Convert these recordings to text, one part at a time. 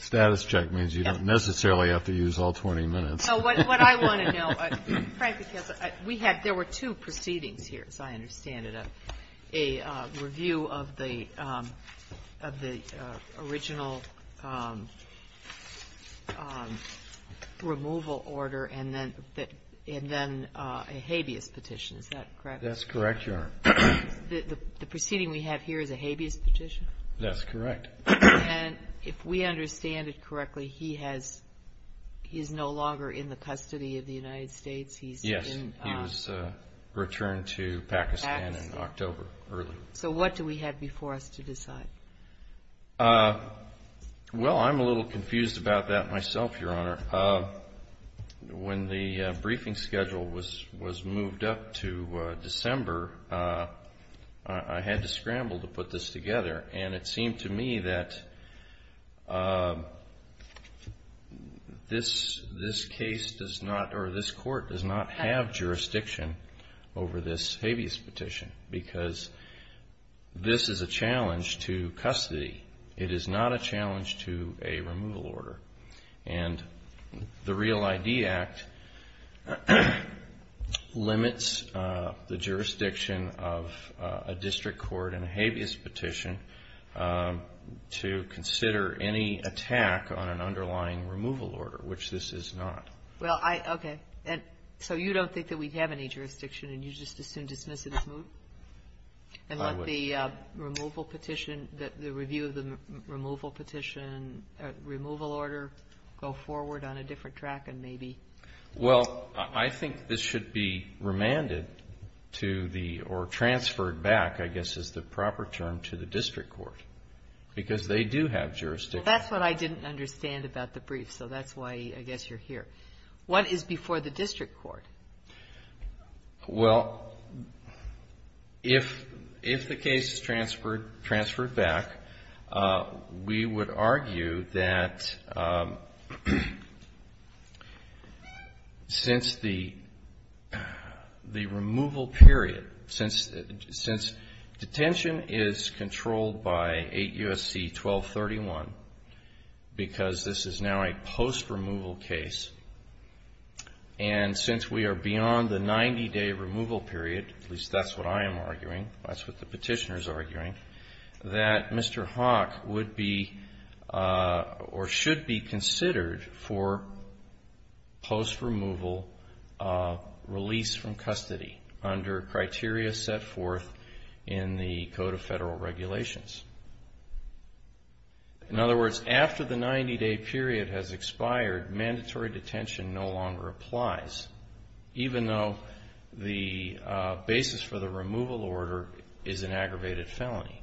Status check means you don't necessarily have to use all 20 minutes. GONZALES No, what I want to know, Frank, is we had there were two proceedings here, as I understand it, a review of the original removal order and then a habeas petition, is that correct? MR. GONZALES That's correct, Your Honor. MS. And if we understand it correctly, he has, he is no longer in the custody of the United States? GONZALES Yes, he was returned to Pakistan in October early. MS. So what do we have before us to decide? MR. GONZALES Well, I'm a little confused about that myself, Your Honor. Your Honor, when the briefing schedule was moved up to December, I had to scramble to put this together. And it seemed to me that this case does not, or this court does not have jurisdiction over this habeas petition because this is a challenge to custody. It is not a challenge to a removal order. And the Real ID Act limits the jurisdiction of a district court in a habeas petition to consider any attack on an underlying removal order, which this is not. MS. GOTTLIEB Well, I, okay. So you don't think that we have any jurisdiction, and you just assume dismissal is moved? MR. GONZALES I would not. MS. GOTTLIEB Well, I think this should be remanded to the, or transferred back, I guess is the proper term, to the district court because they do MS. GOTTLIEB Well, that's what I didn't understand about the brief, so that's why I guess you're here. What is before the district court? MR. GONZALES Since the removal period, since detention is controlled by 8 U.S.C. 1231 because this is now a post-removal case, and since we are beyond the 90-day removal period, at least that's what I am arguing, that's what the considered for post-removal release from custody under criteria set forth in the Code of Federal Regulations. In other words, after the 90-day period has expired, mandatory detention no longer applies, even though the basis for the removal order is an aggravated felony.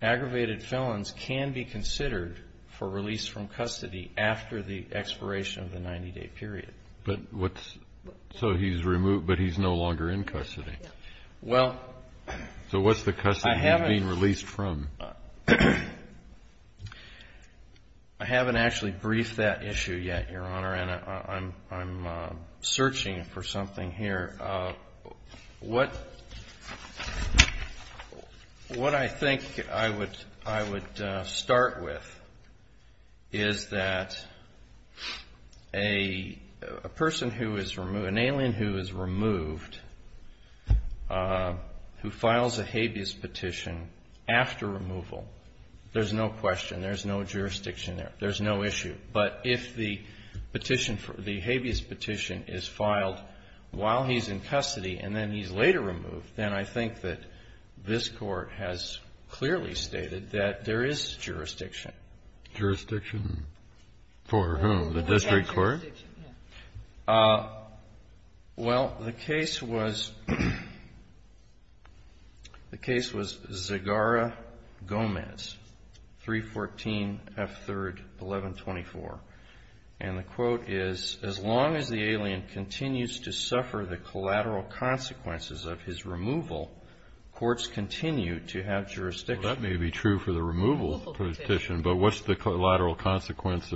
Aggravated felons can be considered for release from custody after the expiration of the 90-day period. MR. TUCKER But what's, so he's removed, but he's no longer in custody? GONZALES Well, I haven't MR. TUCKER So what's the custody he's being released from? MR. GONZALES I haven't actually briefed that issue yet, Your Honor, and I'm searching for something here. What I think I would start with is that a person who is removed, an alien who is removed, who files a habeas petition after removal, there's no question, there's no jurisdiction there. There's no issue. But if the petition for the habeas petition is filed while he's in custody and then he's later removed, then I think that this Court has clearly stated that there is jurisdiction. KENNEDY The district court? MR. GONZALES Well, the case was Zegara-Gomez, 314 F. 3rd, 1124, and the quote is, as long as the alien continues to suffer the collateral consequences of his removal, courts continue to have jurisdiction. MR. TUCKER Well, that may be true for the removal petition, but what's the collateral consequence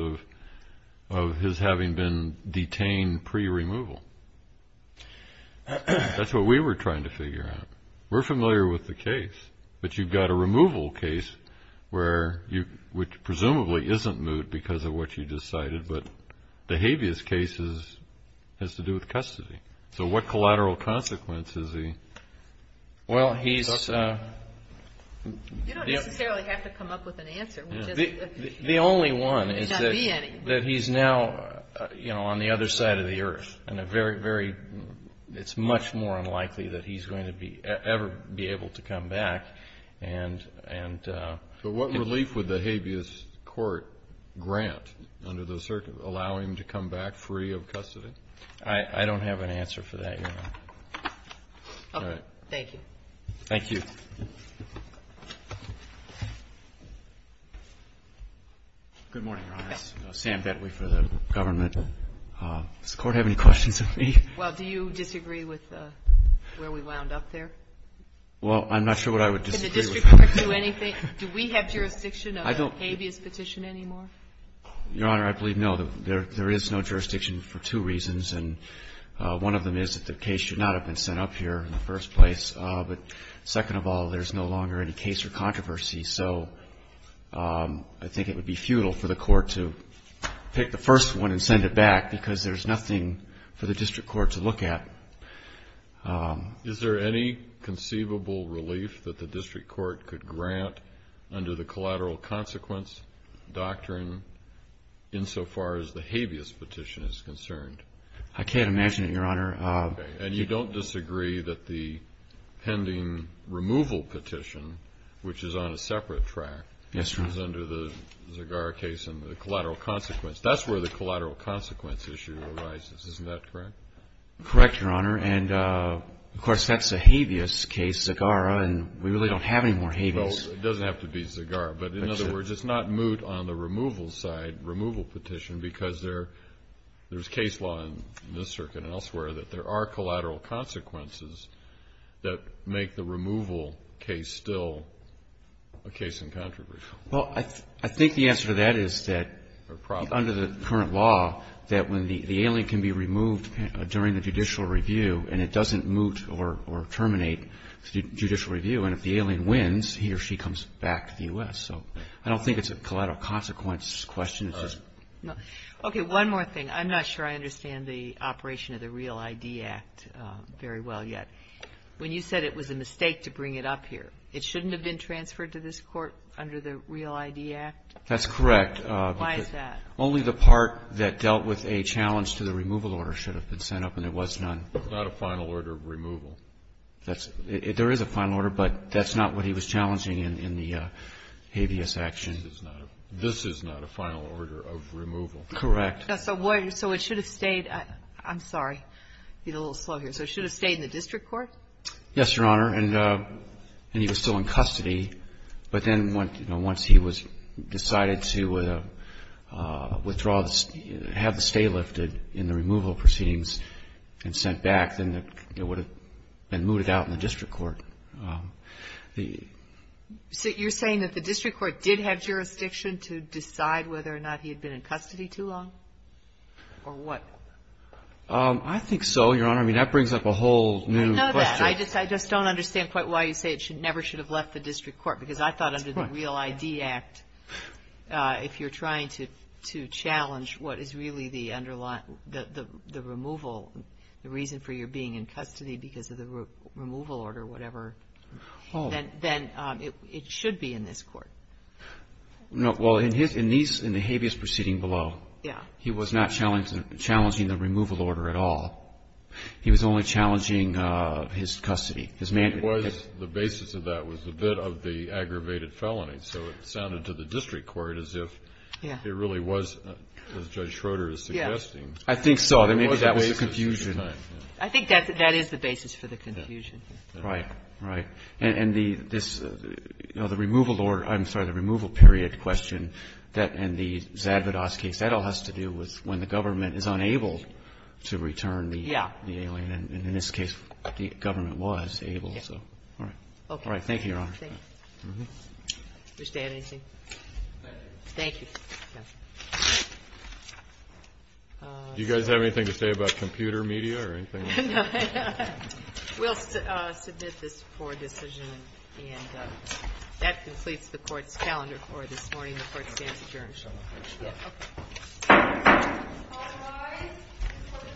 of his having been detained pre-removal? That's what we were trying to figure out. We're familiar with the case, but you've got a removal case where you, which presumably isn't moot because of what you just cited, but the habeas case has to do with custody. So what collateral consequence is he? MR. GONZALES The only one is that he's now, you know, on the other side of the earth and a very, very, it's much more unlikely that he's going to be ever be able to come back and, and so what relief would the habeas court grant under the circuit, allow him to come back free of custody? MR. TUCKER I don't have an answer for that, Your Honor. MS. GOTTLIEB Okay. Thank you. MR. GONZALES Good morning, Your Honor. GOTTLIEB Yes. MR. GONZALES This is Sam Bentley for the government. Does the Court have any questions of me? MS. GOTTLIEB Well, do you disagree with where we wound up there? MR. GONZALES Well, I'm not sure what I would disagree with. MS. GOTTLIEB Can the district court do anything? Do we have jurisdiction of a habeas petition anymore? MR. GONZALES Your Honor, I believe, no. There is no jurisdiction for two reasons, and one of them is that the case should not have been sent up here in the first place, but second of all, there's no longer any case or controversy. So I think it would be futile for the Court to pick the first one and send it back because there's nothing for the district court to look at. MR. GOTTLIEB Is there any conceivable relief that the district court could grant under the collateral consequence doctrine insofar as the habeas petition is concerned? MR. GONZALES I can't imagine it, Your Honor. MR. GOTTLIEB And you don't disagree that the pending removal petition, which is on a separate track, is under the Zegara case and the collateral consequence. That's where the collateral consequence issue arises. Isn't that correct? MR. GOTTLIEB Correct, Your Honor. And, of course, that's a habeas case, Zegara, and we really don't have any more habeas. MR. GOTTLIEB Well, it doesn't have to be Zegara. MR. GOTTLIEB That's it. MR. GOTTLIEB But in other words, it's not moot on the removal side, removal petition, because there's case law in this circuit and elsewhere that there are collateral consequences that make the removal case still a case in controversy. GOTTLIEB Well, I think the answer to that is that under the current law, that when the alien can be removed during the judicial review and it doesn't moot or terminate the judicial review, and if the alien wins, he or she comes back to the U.S. So I don't think it's a collateral consequence question. It's just... MS. GOTTLIEB I don't think it's a collateral consequence question. I think it's a question that's not really being asked very well yet. When you said it was a mistake to bring it up here, it shouldn't have been transferred to this Court under the REAL ID Act? MR. GOTTLIEB That's correct. GOTTLIEB Why is that? MR. GOTTLIEB Only the part that dealt with a challenge to the removal order should have been sent up, and it was not. DR. MCKINLEY It's not a final order of removal. GOTTLIEB There is a final order, but that's not what he was challenging in the habeas action. DR. MCKINLEY This is not a final order of removal. MR. GOTTLIEB Correct. MS. GOTTLIEB I'm going to go a little slow here. So it should have stayed in the district court? MR. GOTTLIEB Yes, Your Honor, and he was still in custody. But then once he was decided to withdraw, have the stay lifted in the removal proceedings and sent back, then it would have been mooted out in the district court. The... MS. GOTTLIEB So you're saying that the district court did have jurisdiction to decide whether or not he had been in custody too long? Or what? MR. GOTTLIEB I think so, Your Honor. I mean, that brings up a whole new question. GOTTLIEB I know that. I just don't understand quite why you say it never should have left the district court, because I thought under the Real ID Act, if you're trying to challenge what is really the removal, the reason for your being in custody because of the removal order or whatever, then it should be in this court. MR. GOTTLIEB No. Well, in the habeas proceeding below, he was not challenging the removal order at all. He was challenging the removal order. MS. GOTTLIEB He was only challenging his custody, his mandate. GENERAL VERRILLI I think the basis of that was a bit of the aggravated felony. So it sounded to the district court as if it really was, as Judge Schroeder is suggesting. GOTTLIEB I think so. I mean, that was the confusion. MS. GOTTLIEB I think that is the basis for the confusion. GENERAL VERRILLI Right. Right. And the removal order or, I'm sorry, the removal period question and the Zadvodos case, that all has to do with when the government is unable to return the alien. And in this case, the government was able. All right. GENERAL VERRILLI Thank you. MS. GOTTLIEB Thank you. GENERAL VERRILLI Thank you. MS. GOTTLIEB Thank you. GENERAL VERRILLI Thank you. MS. GOTTLIEB Do you guys have anything to say about computer media or anything? MS. GOTTLIEB No. No. We'll submit this for decision. And that completes the Court's calendar for this morning. The Court stands adjourned. GENERAL VERRILLI All rise.